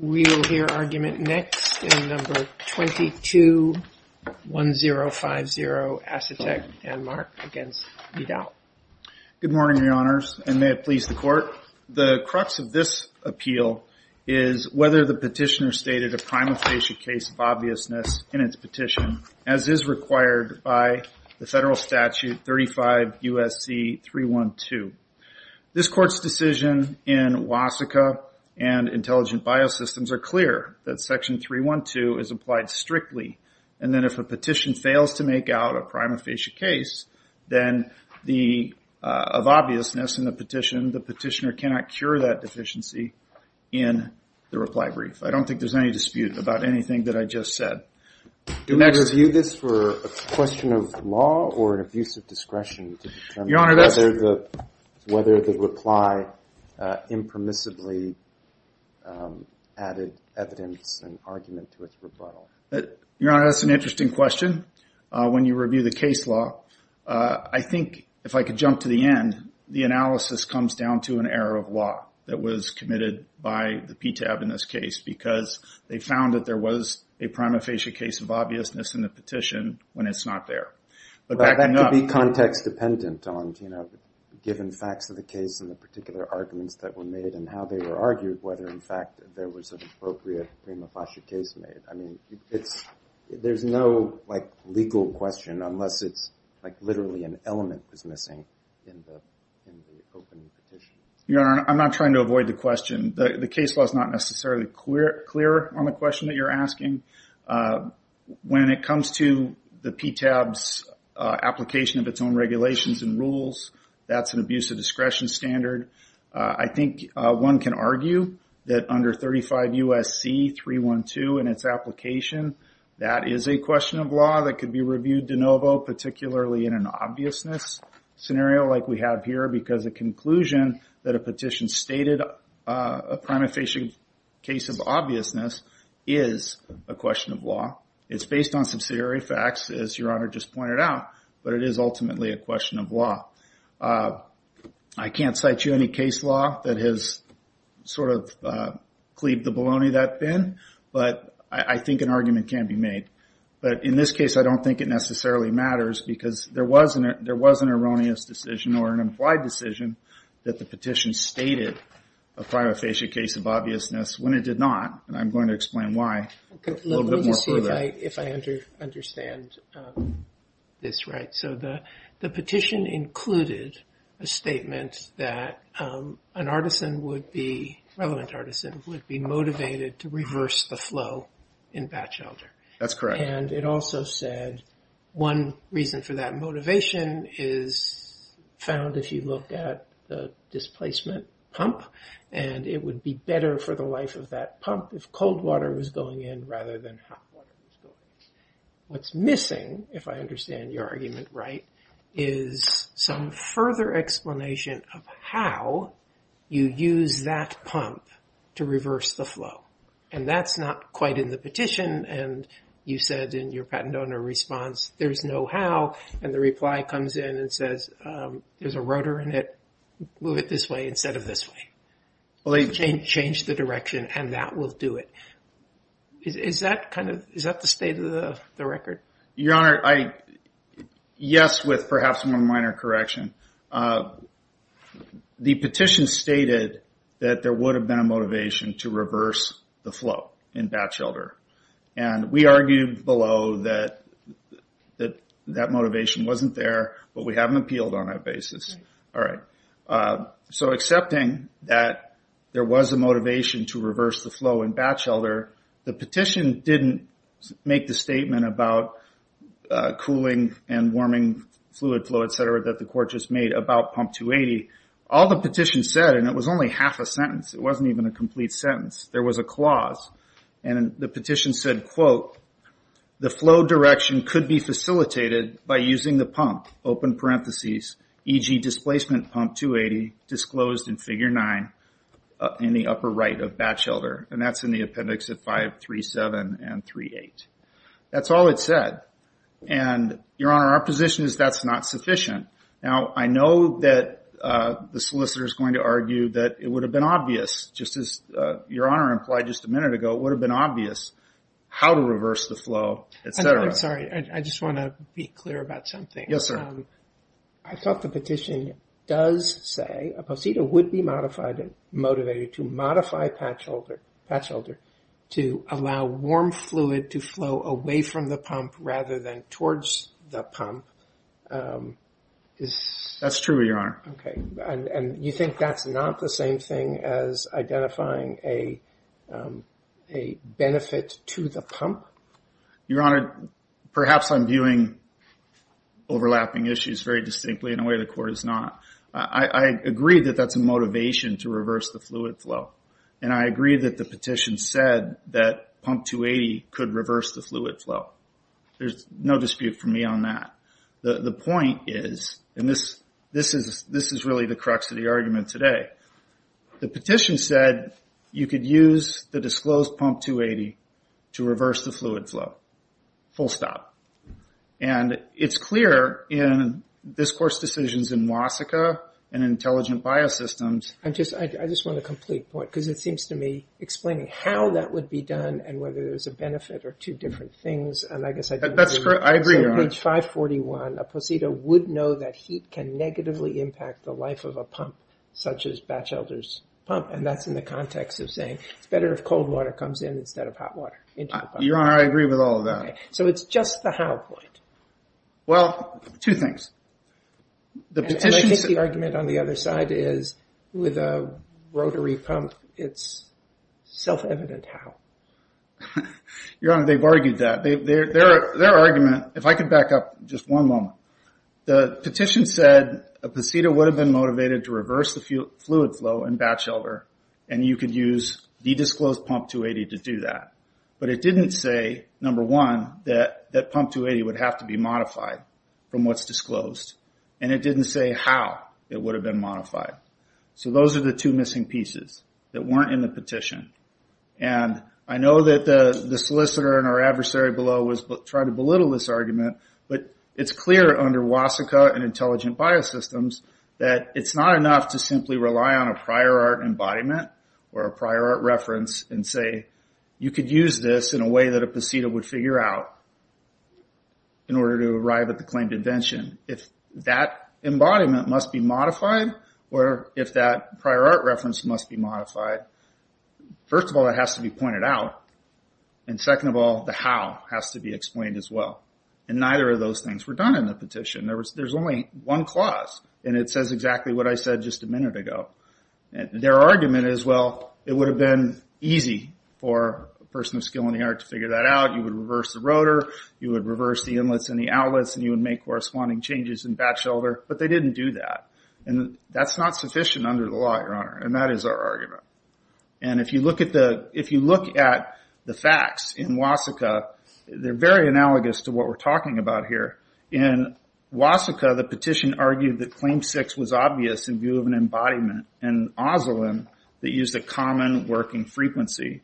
We will hear argument next in No. 22-1050, Asetek Danmark v. Vidal. Good morning, Your Honors, and may it please the Court. The crux of this appeal is whether the petitioner stated a prima facie case of obviousness in its petition, as is required by the federal statute 35 U.S.C. 312. This Court's decision in Wasika and Intelligent Biosystems are clear that Section 312 is applied strictly, and then if a petition fails to make out a prima facie case of obviousness in the petition, the petitioner cannot cure that deficiency in the reply brief. I don't think there's any dispute about anything that I just said. Do we review this for a question of law or an abuse of discretion to determine whether the petitioner whether the reply impermissibly added evidence and argument to its rebuttal? Your Honor, that's an interesting question. When you review the case law, I think if I could jump to the end, the analysis comes down to an error of law that was committed by the PTAB in this case because they found that there was a prima facie case of obviousness in the petition when it's not there. That could be context-dependent on, you know, given facts of the case and the particular arguments that were made and how they were argued, whether, in fact, there was an appropriate prima facie case made. I mean, there's no, like, legal question unless it's like literally an element was missing in the opening petition. Your Honor, I'm not trying to avoid the question. The case law is not necessarily clear on the question that you're asking. When it comes to the PTAB's application of its own regulations and rules, that's an abuse of discretion standard. I think one can argue that under 35 U.S.C. 312 in its application, that is a question of law that could be reviewed de novo, particularly in an obviousness scenario like we have here because a conclusion that a petition stated a prima facie case of obviousness is a question of law. It's based on subsidiary facts, as Your Honor just pointed out, but it is ultimately a question of law. I can't cite you any case law that has sort of cleaved the baloney that thin, but I think an argument can be made. But in this case, I don't think it necessarily matters because there was an erroneous decision or an implied decision that the petition stated a prima facie case of obviousness when it did not, and I'm going to explain why a little bit more further. Let me just see if I understand this right. So the petition included a statement that an artisan would be, relevant artisan, would be motivated to reverse the flow in batch elder. That's correct. And it also said one reason for that motivation is found if you look at the displacement pump, and it would be better for the life of that pump if cold water was going in rather than hot water. What's missing, if I understand your argument right, is some further explanation of how you use that pump to reverse the flow. And that's not quite in the petition, and you said in your patent owner response, there's no how, and the reply comes in and says there's a rotor in it, move it this way instead of this way. Change the direction and that will do it. Is that kind of, is that the state of the record? Your Honor, yes, with perhaps one minor correction. The petition stated that there would have been a motivation to reverse the flow in batch elder, and we argued below that that motivation wasn't there, but we haven't appealed on that basis. So accepting that there was a motivation to reverse the flow in batch elder, the petition didn't make the statement about cooling and warming fluid flow, et cetera, that the court just made about pump 280. All the petition said, and it was only half a sentence, it wasn't even a complete sentence. There was a clause, and the petition said, quote, the flow direction could be facilitated by using the pump, open parentheses, e.g. displacement pump 280 disclosed in figure nine in the upper right of batch elder, and that's in the appendix of 537 and 38. That's all it said. And, Your Honor, our position is that's not sufficient. Now, I know that the solicitor is going to argue that it would have been obvious, just as Your Honor implied just a minute ago, it would have been obvious how to reverse the flow, et cetera. I'm sorry. I just want to be clear about something. Yes, sir. I thought the petition does say a posita would be motivated to modify batch elder to allow warm fluid to flow away from the pump rather than towards the pump. That's true, Your Honor. Okay. And you think that's not the same thing as identifying a benefit to the pump? Your Honor, perhaps I'm viewing overlapping issues very distinctly in a way the court is not. I agree that that's a motivation to reverse the fluid flow, and I agree that the petition said that pump 280 could reverse the fluid flow. There's no dispute for me on that. The point is, and this is really the crux of the argument today, the petition said you could use the disclosed pump 280 to reverse the fluid flow, full stop. And it's clear in this court's decisions in WASCA and intelligent biosystems. I just want a complete point because it seems to me, explaining how that would be done and whether there's a benefit are two different things, and I guess I didn't agree. That's correct. I agree, Your Honor. So page 541, a posita would know that heat can negatively impact the life of a pump, such as batch elders pump, and that's in the context of saying it's better if cold water comes in instead of hot water. Your Honor, I agree with all of that. So it's just the how point. Well, two things. And I think the argument on the other side is with a rotary pump, it's self-evident how. Your Honor, they've argued that. Their argument, if I could back up just one moment, the petition said a posita would have been motivated to reverse the fluid flow in batch elder, and you could use the disclosed pump 280 to do that. But it didn't say, number one, that pump 280 would have to be modified from what's disclosed. And it didn't say how it would have been modified. So those are the two missing pieces that weren't in the petition. And I know that the solicitor and our adversary below tried to belittle this argument, but it's clear under WASCA and intelligent biosystems that it's not enough to simply rely on a prior art embodiment or a prior art reference and say, you could use this in a way that a posita would figure out in order to arrive at the claimed invention. If that embodiment must be modified, or if that prior art reference must be modified, first of all, it has to be pointed out, and second of all, the how has to be explained as well. And neither of those things were done in the petition. There's only one clause, and it says exactly what I said just a minute ago. Their argument is, well, it would have been easy for a person of skill and the art to figure that out. You would reverse the rotor, you would reverse the inlets and the outlets, and you would make corresponding changes in batch order, but they didn't do that. And that's not sufficient under the law, Your Honor, and that is our argument. And if you look at the facts in WASCA, they're very analogous to what we're talking about here. In WASCA, the petition argued that Claim 6 was obvious in view of an embodiment, an ozolin, that used a common working frequency.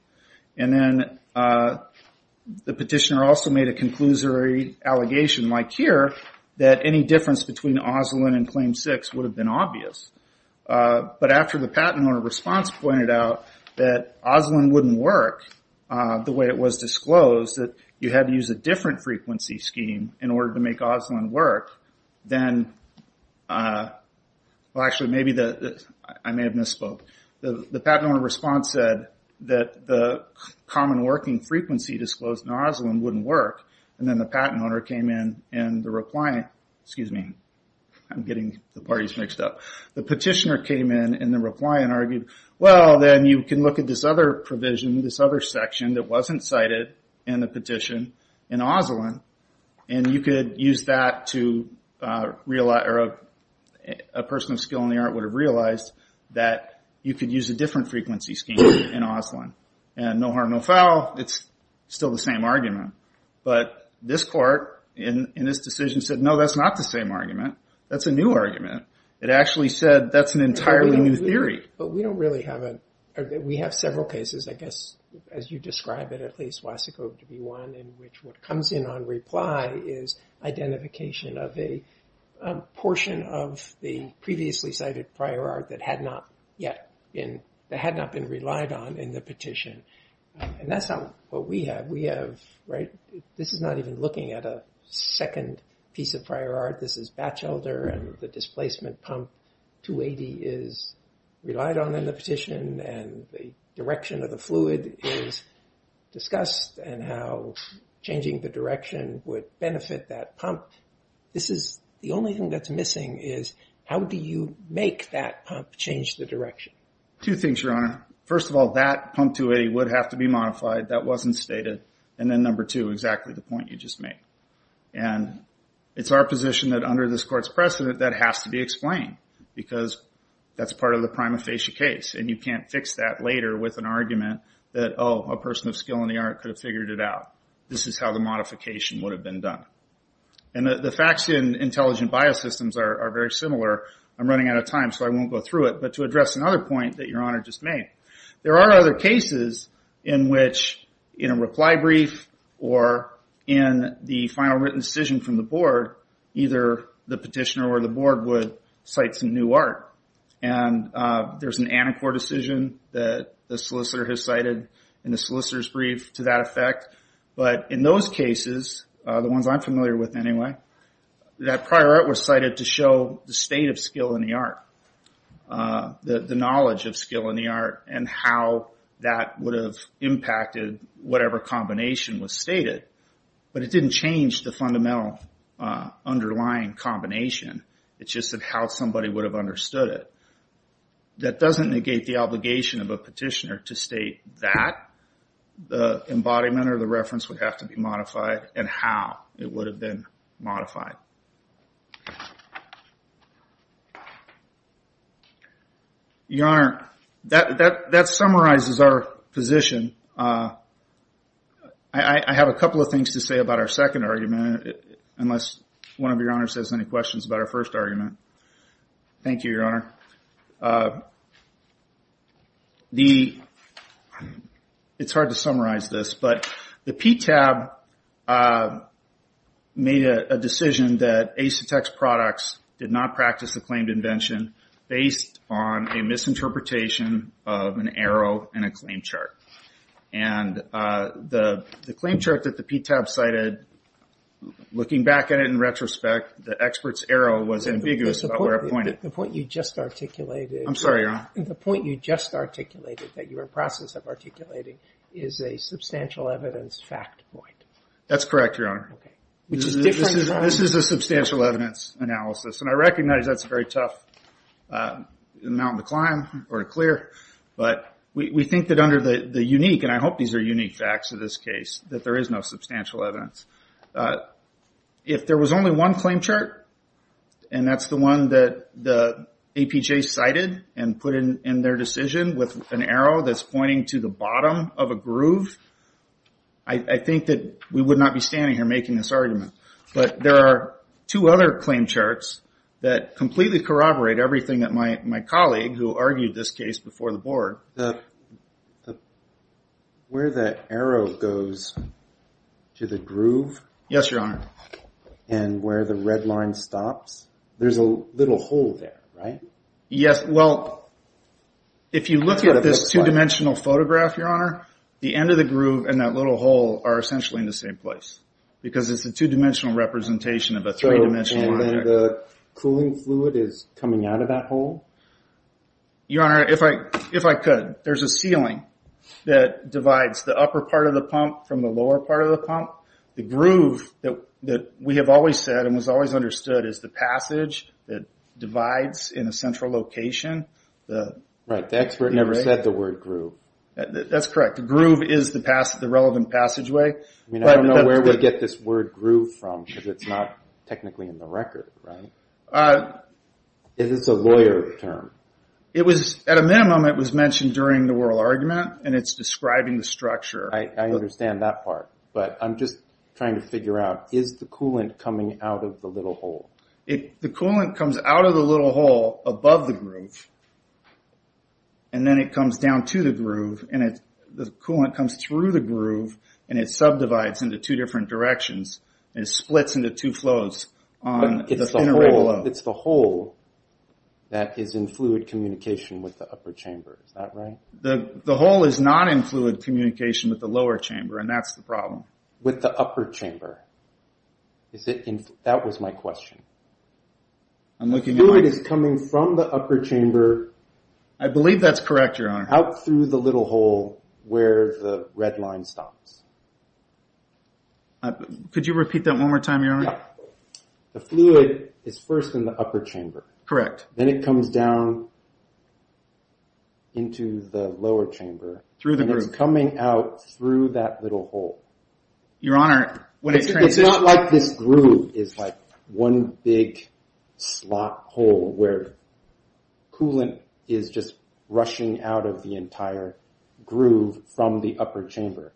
And then the petitioner also made a conclusory allegation, like here, that any difference between ozolin and Claim 6 would have been obvious. But after the patent owner's response pointed out that ozolin wouldn't work the way it was disclosed, that you had to use a different frequency scheme in order to make ozolin work, then... Well, actually, I may have misspoke. The patent owner's response said that the common working frequency disclosed in ozolin wouldn't work, and then the patent owner came in and the reply... Excuse me. I'm getting the parties mixed up. The petitioner came in and the reply and argued, well, then you can look at this other provision, this other section, that wasn't cited in the petition in ozolin, and you could use that to... A person of skill in the art would have realized that you could use a different frequency scheme in ozolin. And no harm, no foul, it's still the same argument. But this court, in this decision, said, no, that's not the same argument. That's a new argument. It actually said that's an entirely new theory. But we don't really have a... We have several cases, I guess, as you describe it, at least Wasikow v. 1, in which what comes in on reply is identification of a portion of the previously cited prior art that had not been relied on in the petition. And that's what we have. This is not even looking at a second piece of prior art. This is Batchelder and the displacement pump. 280 is relied on in the petition, and the direction of the fluid is discussed, and how changing the direction would benefit that pump. This is... The only thing that's missing is, how do you make that pump change the direction? Two things, Your Honor. First of all, that pump 280 would have to be modified. That wasn't stated. And then number two, exactly the point you just made. And it's our position that under this court's precedent, that has to be explained, because that's part of the prima facie case, and you can't fix that later with an argument that, oh, a person of skill in the art could have figured it out. This is how the modification would have been done. And the facts in intelligent biosystems are very similar. I'm running out of time, so I won't go through it. But to address another point that Your Honor just made, there are other cases in which, in a reply brief or in the final written decision from the board, either the petitioner or the board would cite some new art. And there's an Anacor decision that the solicitor has cited, and the solicitor's brief to that effect. But in those cases, the ones I'm familiar with anyway, that prior art was cited to show the state of skill in the art, the knowledge of skill in the art, and how that would have impacted whatever combination was stated. But it didn't change the fundamental underlying combination. It's just that how somebody would have understood it. That doesn't negate the obligation of a petitioner to state that the embodiment or the reference would have to be modified and how it would have been modified. Your Honor, that summarizes our position I have a couple of things to say about our second argument, unless one of Your Honors has any questions about our first argument. Thank you, Your Honor. It's hard to summarize this, but the PTAB made a decision that Asetek's products did not practice the claimed invention based on a misinterpretation of an arrow and a claim chart. The claim chart that the PTAB cited, looking back at it in retrospect, the expert's arrow was ambiguous about where it pointed. The point you just articulated that you were in the process of articulating is a substantial evidence fact point. That's correct, Your Honor. This is a substantial evidence analysis. I recognize that's a very tough mountain to climb or to clear, but we think that under the unique, and I hope these are unique facts in this case, that there is no substantial evidence. If there was only one claim chart, and that's the one that the APJ cited and put in their decision with an arrow that's pointing to the bottom of a groove, I think that we would not be standing here making this argument. But there are two other claim charts that completely corroborate everything that my colleague, who argued this case before the board... Where the arrow goes to the groove and where the red line stops, there's a little hole there, right? Yes. If you look at this 2-dimensional photograph, the end of the groove and that little hole are essentially in the same place because it's a 2-dimensional representation of a 3-dimensional object. The cooling fluid is coming out of that hole? Your Honor, if I could, there's a ceiling that divides the upper part of the pump from the lower part of the pump. The groove that we have always said and was always understood as the passage that divides in a central location. Right. The expert never said the word groove. That's correct. The groove is the relevant passageway. I don't know where we get this word groove from because it's not technically in the record, right? Is this a lawyer term? At a minimum, it was mentioned during the oral argument and it's describing the structure. I understand that part, but I'm just trying to figure out, is the coolant coming out of the little hole? The coolant comes out of the little hole above the groove and then it comes down to the groove and the coolant comes through the groove and it subdivides into 2 different directions and it splits into 2 flows. It's the hole that is in fluid communication with the upper chamber, is that right? The hole is not in fluid communication with the lower chamber and that's the problem. With the upper chamber. That was my question. The fluid is coming from the upper chamber I believe that's correct, Your Honor. out through the little hole where the red line stops. Could you repeat that one more time, Your Honor? The fluid is first in the upper chamber. Correct. Then it comes down into the lower chamber and it's coming out through that little hole. It's not like this groove is one big slot hole where coolant is just rushing out of the entire groove from the upper chamber.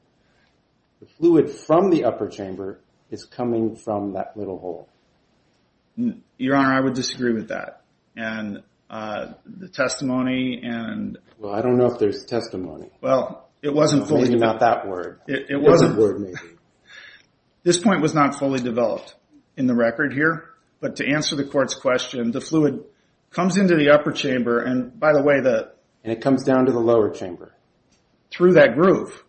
The fluid from the upper chamber is coming from that little hole. Your Honor, I would disagree with that. I don't know if there's testimony. Maybe not that word. This point was not fully developed in the record here but to answer the court's question the fluid comes into the upper chamber and it comes down to the lower chamber through that groove.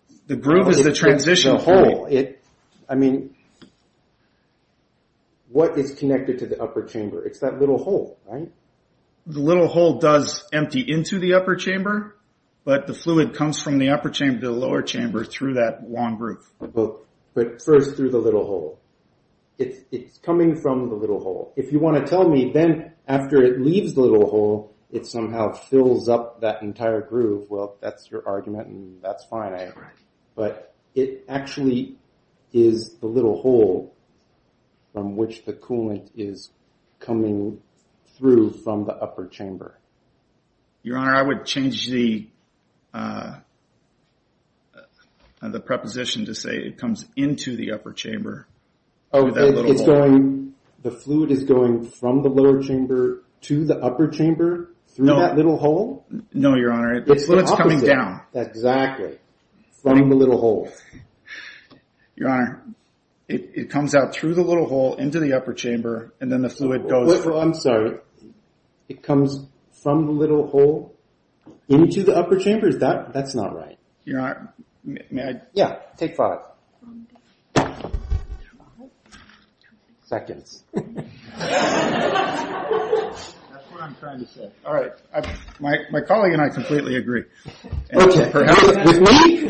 What is connected to the upper chamber? It's that little hole, right? The little hole does empty into the upper chamber but the fluid comes from the upper chamber to the lower chamber through that long groove. But first through the little hole. It's coming from the little hole. If you want to tell me then after it leaves the little hole it somehow fills up that entire groove that's your argument and that's fine. But it actually is the little hole from which the coolant is coming through from the upper chamber. Your Honor, I would change the preposition to say it comes into the upper chamber through that little hole. The fluid is going from the lower chamber to the upper chamber through that little hole? No, Your Honor, the fluid is coming down. Exactly, from the little hole. Your Honor, it comes out through the little hole into the upper chamber and then the fluid goes... I'm sorry, it comes from the little hole into the upper chamber? That's not right. Your Honor, may I? Yeah, take five. Seconds. That's what I'm trying to say. My colleague and I completely agree. With me?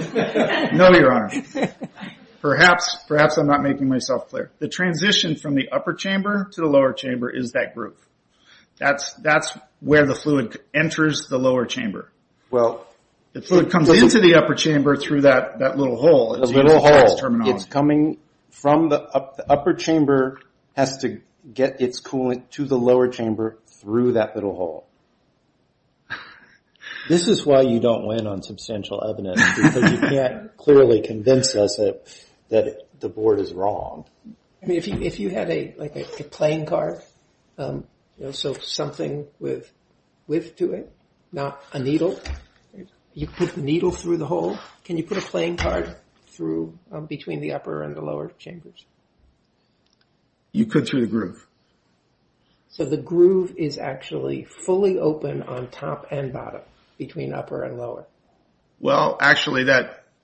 No, Your Honor. Perhaps I'm not making myself clear. The transition from the upper chamber to the lower chamber is that groove. That's where the fluid enters the lower chamber. The fluid comes into the upper chamber through that little hole. It's coming from the upper chamber has to get its coolant to the lower chamber through that little hole. This is why you don't win on substantial evidence because you can't clearly convince us that the board is wrong. If you had a playing card, something with width to it, not a needle, you put the needle through the hole. Can you put a playing card through between the upper and the lower chambers? You could through the groove. So the groove is actually fully open on top and bottom between upper and lower? Well, actually,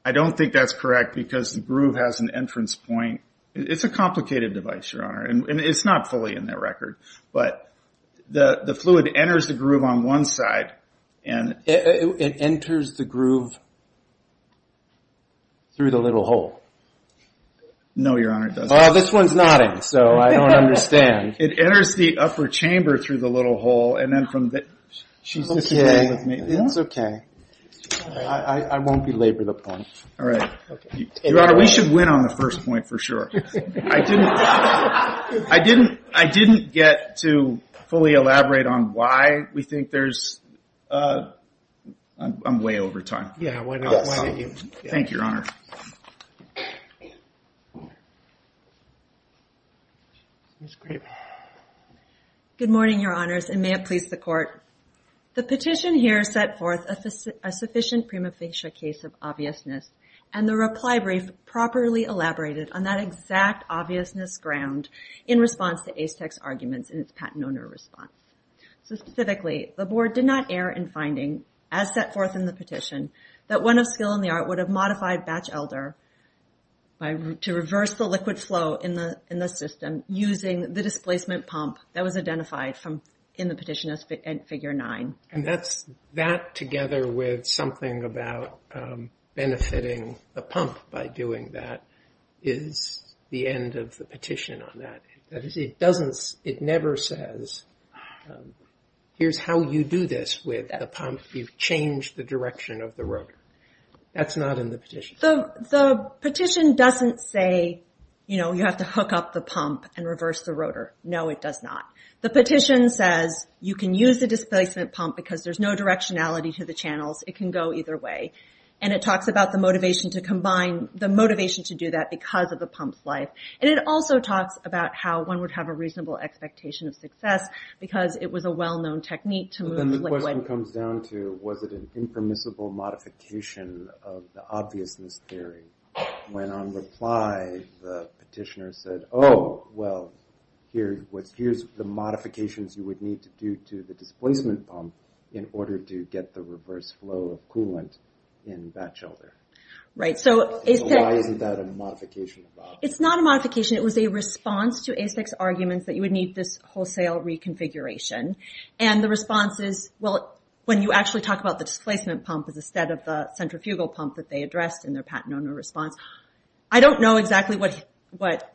I don't think that's correct because the groove has an entrance point. It's a complicated device, Your Honor. It's not fully in that record. The fluid enters the groove on one side. It enters the groove through the little hole? No, Your Honor, it doesn't. This one's nodding, so I don't understand. It enters the upper chamber through the little hole. It's okay. I won't belabor the point. Your Honor, we should win on the first point for sure. I didn't get to fully elaborate on why we think there's... I'm way over time. Thank you, Your Honor. Good morning, Your Honors, and may it please the Court. The petition here set forth a sufficient prima facie case of obviousness, and the reply brief properly elaborated on that exact obviousness ground in response to ASTEC's arguments in its patent owner response. Specifically, the Board did not err in finding, as set forth in the petition, that one of skill in the art would have modified Batch Elder to reverse the liquid flow in the system using the displacement pump that was identified in the petition as Figure 9. That, together with something about benefiting the pump by doing that, is the end of the petition on that. It never says, here's how you do this with the pump. You've changed the direction of the rotor. That's not in the petition. The petition doesn't say you have to hook up the pump and reverse the rotor. No, it does not. The petition says you can use the displacement pump because there's no directionality to the channels. It can go either way. It talks about the motivation to do that because of the pump's life. It also talks about how one would have a reasonable expectation of success because it was a well-known technique to move liquid. The question comes down to, was it an impermissible modification of the obviousness theory? When, on reply, the petitioner said, here's the modifications you would need to do to the displacement pump in order to get the reverse flow of coolant in that shelter. Why isn't that a modification? It's not a modification. It was a response to ASIC's arguments that you would need this wholesale reconfiguration. When you actually talk about the displacement pump instead of the centrifugal pump that they addressed in their patent owner response, I don't know exactly what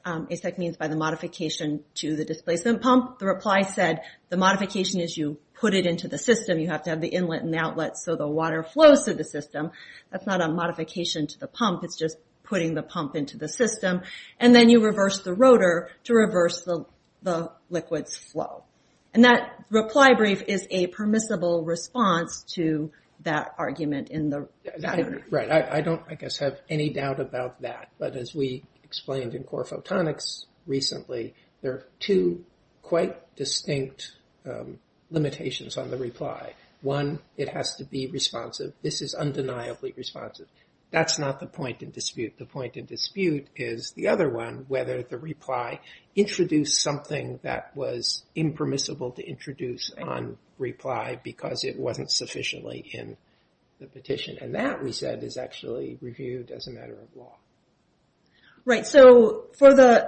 ASIC means by the modification to the displacement pump. The reply said the modification is you put it into the system. You have to have the inlet and outlet so the water flows through the system. That's not a modification to the pump. It's just putting the pump into the system. Then you reverse the rotor to reverse the liquid's flow. That reply brief is a permissible response to that argument in the patent. I don't have any doubt about that. As we explained in Core Photonics recently, there are two quite distinct limitations on the reply. One, it has to be responsive. This is undeniably responsive. That's not the point in dispute. The point in dispute is the other one, whether the reply introduced something that was impermissible to introduce on reply because it wasn't sufficiently in the petition. That, we said, is actually reviewed as a matter of law. Right. For the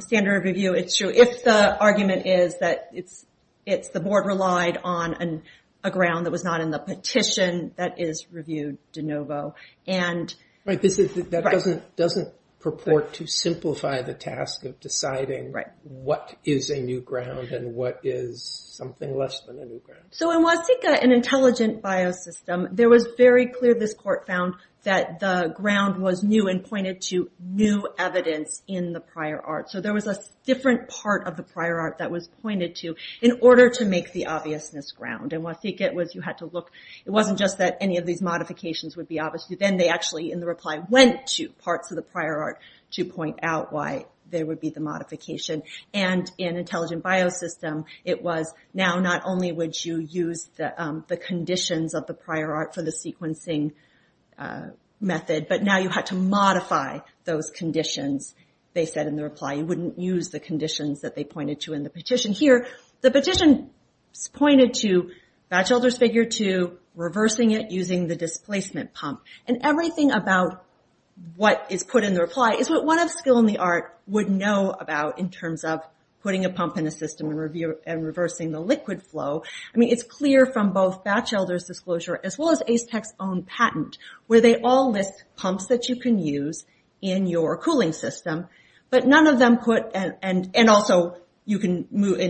standard review, it's true. If the argument is that the board relied on a ground that was not in the petition, that is reviewed de novo. That doesn't purport to simplify the task of deciding what is a new ground and what is something less than a new ground. In Huatika, an intelligent biosystem, there was very clear, this court found, that the ground was new and pointed to new evidence in the prior art. There was a different part of the prior art that was pointed to in order to make the obviousness ground. It wasn't just that any of these modifications would be obvious. Then they actually, in the reply, went to parts of the prior art to point out why there would be the modification. In intelligent biosystem, it was now not only would you use the conditions of the prior art for the sequencing method, but now you had to modify those conditions, they said in the reply. You wouldn't use the conditions that they pointed to in the petition. Here, the petition pointed to, Batchelder's figure two, reversing it using the displacement pump. Everything about what is put in the reply is what one of skill in the art would know about in terms of putting a pump in a system and reversing the liquid flow. It's clear from both Batchelder's disclosure, as well as Ace Tech's own patent, where they all list pumps that you can use in your cooling system. In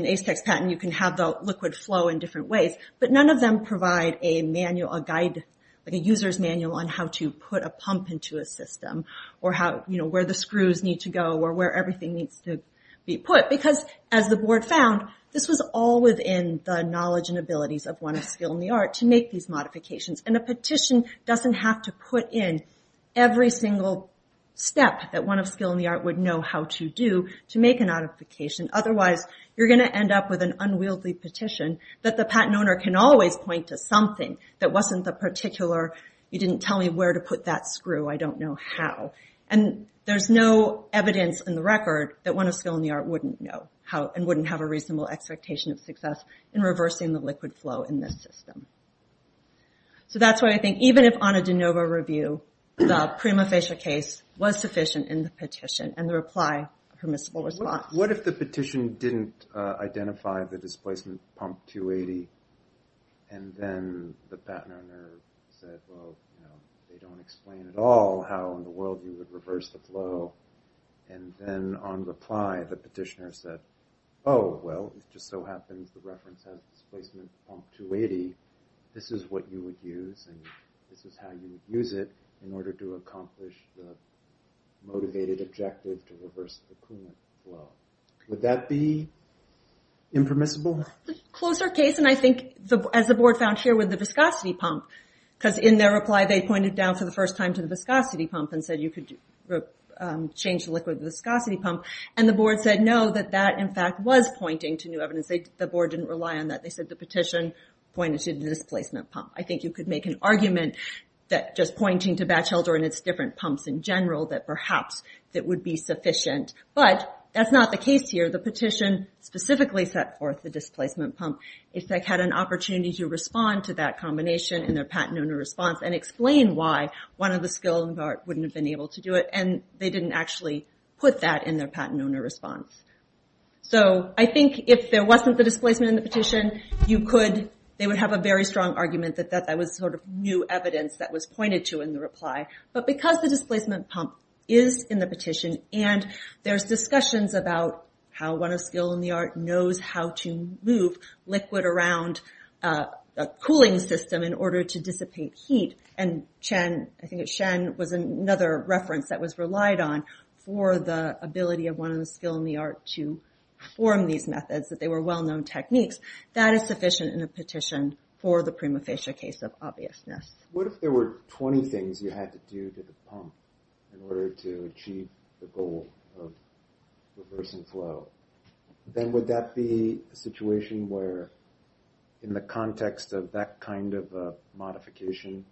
Ace Tech's patent, you can have the liquid flow in different ways, but none of them provide a user's manual on how to put a pump into a system or where the screws need to go or where everything needs to be put. As the board found, this was all within the knowledge and abilities of one of skill in the art to make these modifications. A petition doesn't have to put in every single step that one of skill in the art would know how to do to make a modification. Otherwise, you're going to end up with an unwieldy petition that the patent owner can always point to something that wasn't the particular, you didn't tell me where to put that screw, I don't know how. There's no evidence in the record that one of skill in the art wouldn't know and wouldn't have a reasonable expectation of success in reversing the liquid flow in this system. So that's why I think even if on a de novo review, the prima facie case was sufficient in the petition and the reply permissible response. What if the petition didn't identify the displacement pump 280 and then the patent owner said, well, they don't explain at all how in the world you would reverse the flow and then on reply the petitioner said, oh, well, it just so happens the reference has displacement pump 280 this is what you would use and this is how you would use it in order to accomplish the motivated objective to reverse the coolant flow. Would that be impermissible? Closer case and I think as the board found here with the viscosity pump, because in their reply they pointed down for the first time to the viscosity pump and said you could change the liquid viscosity pump and the board said no, that in fact was pointing to new evidence. The board didn't rely on that. They said the petition pointed to the displacement pump. I think you could make an argument that just pointing to Batchelder and its different pumps in general that perhaps that would be sufficient. But that's not the case here. The petition specifically set forth the displacement pump if they had an opportunity to respond to that combination in their patent owner response and explain why one of the skilled wouldn't have been able to do it and they didn't actually put that in their patent owner response. So I think if there wasn't the displacement in the petition you could, they would have a very strong argument that that was sort of new evidence that was pointed to in the reply. But because the displacement pump is in the petition and there's discussions about how one of skilled in the art knows how to move liquid around a cooling system in order to dissipate heat and Chen, I think it's Shen was another reference that was relied on for the ability of one of the skilled in the art to perform these methods. That they were well-known techniques. That is sufficient in a petition for the prima facie case of obviousness. What if there were 20 things you had to do to the pump in order to achieve the goal of reversing flow? Then would that be a situation where in the context of that kind of modification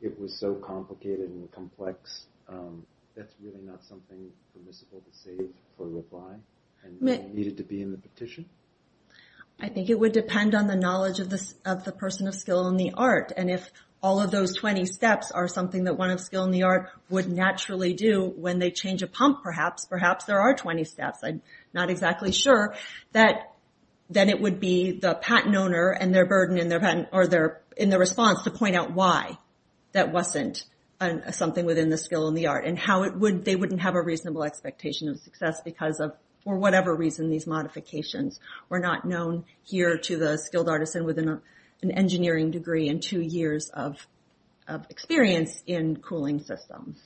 it was so complicated and complex that's really not something permissible to say for a reply and needed to be in the petition? I think it would depend on the knowledge of the person of skill in the art. And if all of those 20 steps are something that one of skilled in the art would naturally do when they change a pump perhaps perhaps there are 20 steps, I'm not exactly sure. Then it would be the patent owner and their burden in their response to point out why that wasn't something within the skill in the art and how they wouldn't have a reasonable expectation of success because for whatever reason these modifications were not known here to the skilled artisan with an engineering degree and two years of experience in cooling systems.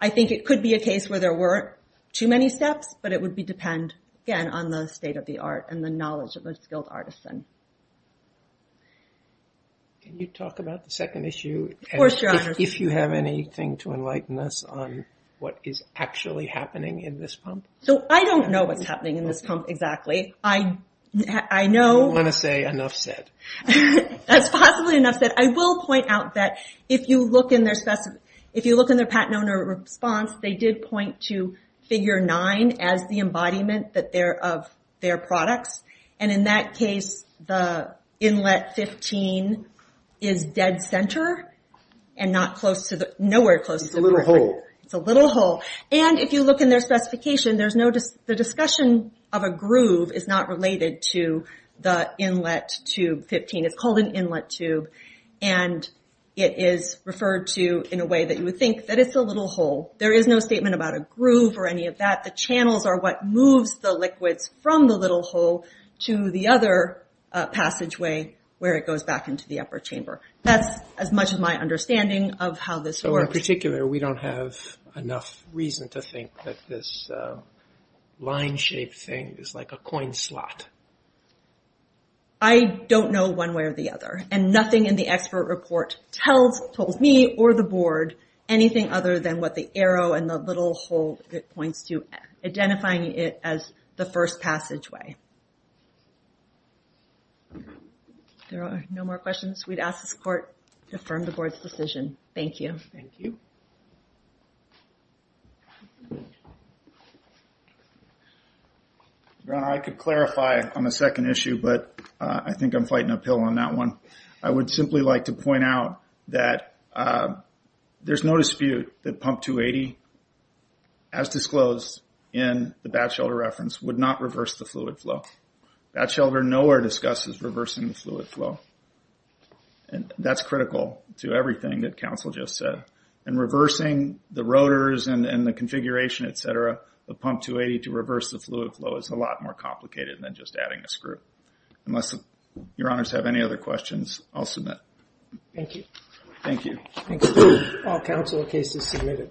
I think it could be a case where there weren't too many steps, but it would depend again on the state of the art and the knowledge of the skilled artisan. Can you talk about the second issue? If you have anything to enlighten us on what is actually happening in this pump? I don't know what's happening in this pump exactly. I don't want to say enough said. That's possibly enough said. I will point out that if you look in their patent owner response they did point to figure 9 as the embodiment of their products and in that case the inlet 15 is dead center and nowhere close to perfect. It's a little hole. The discussion of a groove is not related to the inlet tube 15. It's called an inlet tube and it is referred to in a way that you would think that it's a little hole. There is no statement about a groove or any of that. The channels are what moves the liquids from the little hole to the other passageway where it goes back into the upper chamber. That's as much of my understanding of how this works. In particular, we don't have enough reason to think that this line shaped thing is like a coin slot. I don't know one way or the other and nothing in the expert report tells me or the board anything other than what the arrow and the little hole points to identifying it as the first passageway. There are no more questions. We'd ask the court to affirm the board's decision. Thank you. I could clarify on the second issue but I think I'm fighting uphill on that one. I would simply like to point out that there's no dispute that pump 280 as disclosed in the Batchelder reference would not reverse the fluid flow. Batchelder nowhere discusses reversing the fluid flow. That's critical to everything that counsel just said. In reversing the rotors and the configuration, etc., the pump 280 to reverse the fluid flow is a lot more complicated than just adding a screw. Unless your honors have any other questions, I'll submit. Thank you. All counsel cases submitted.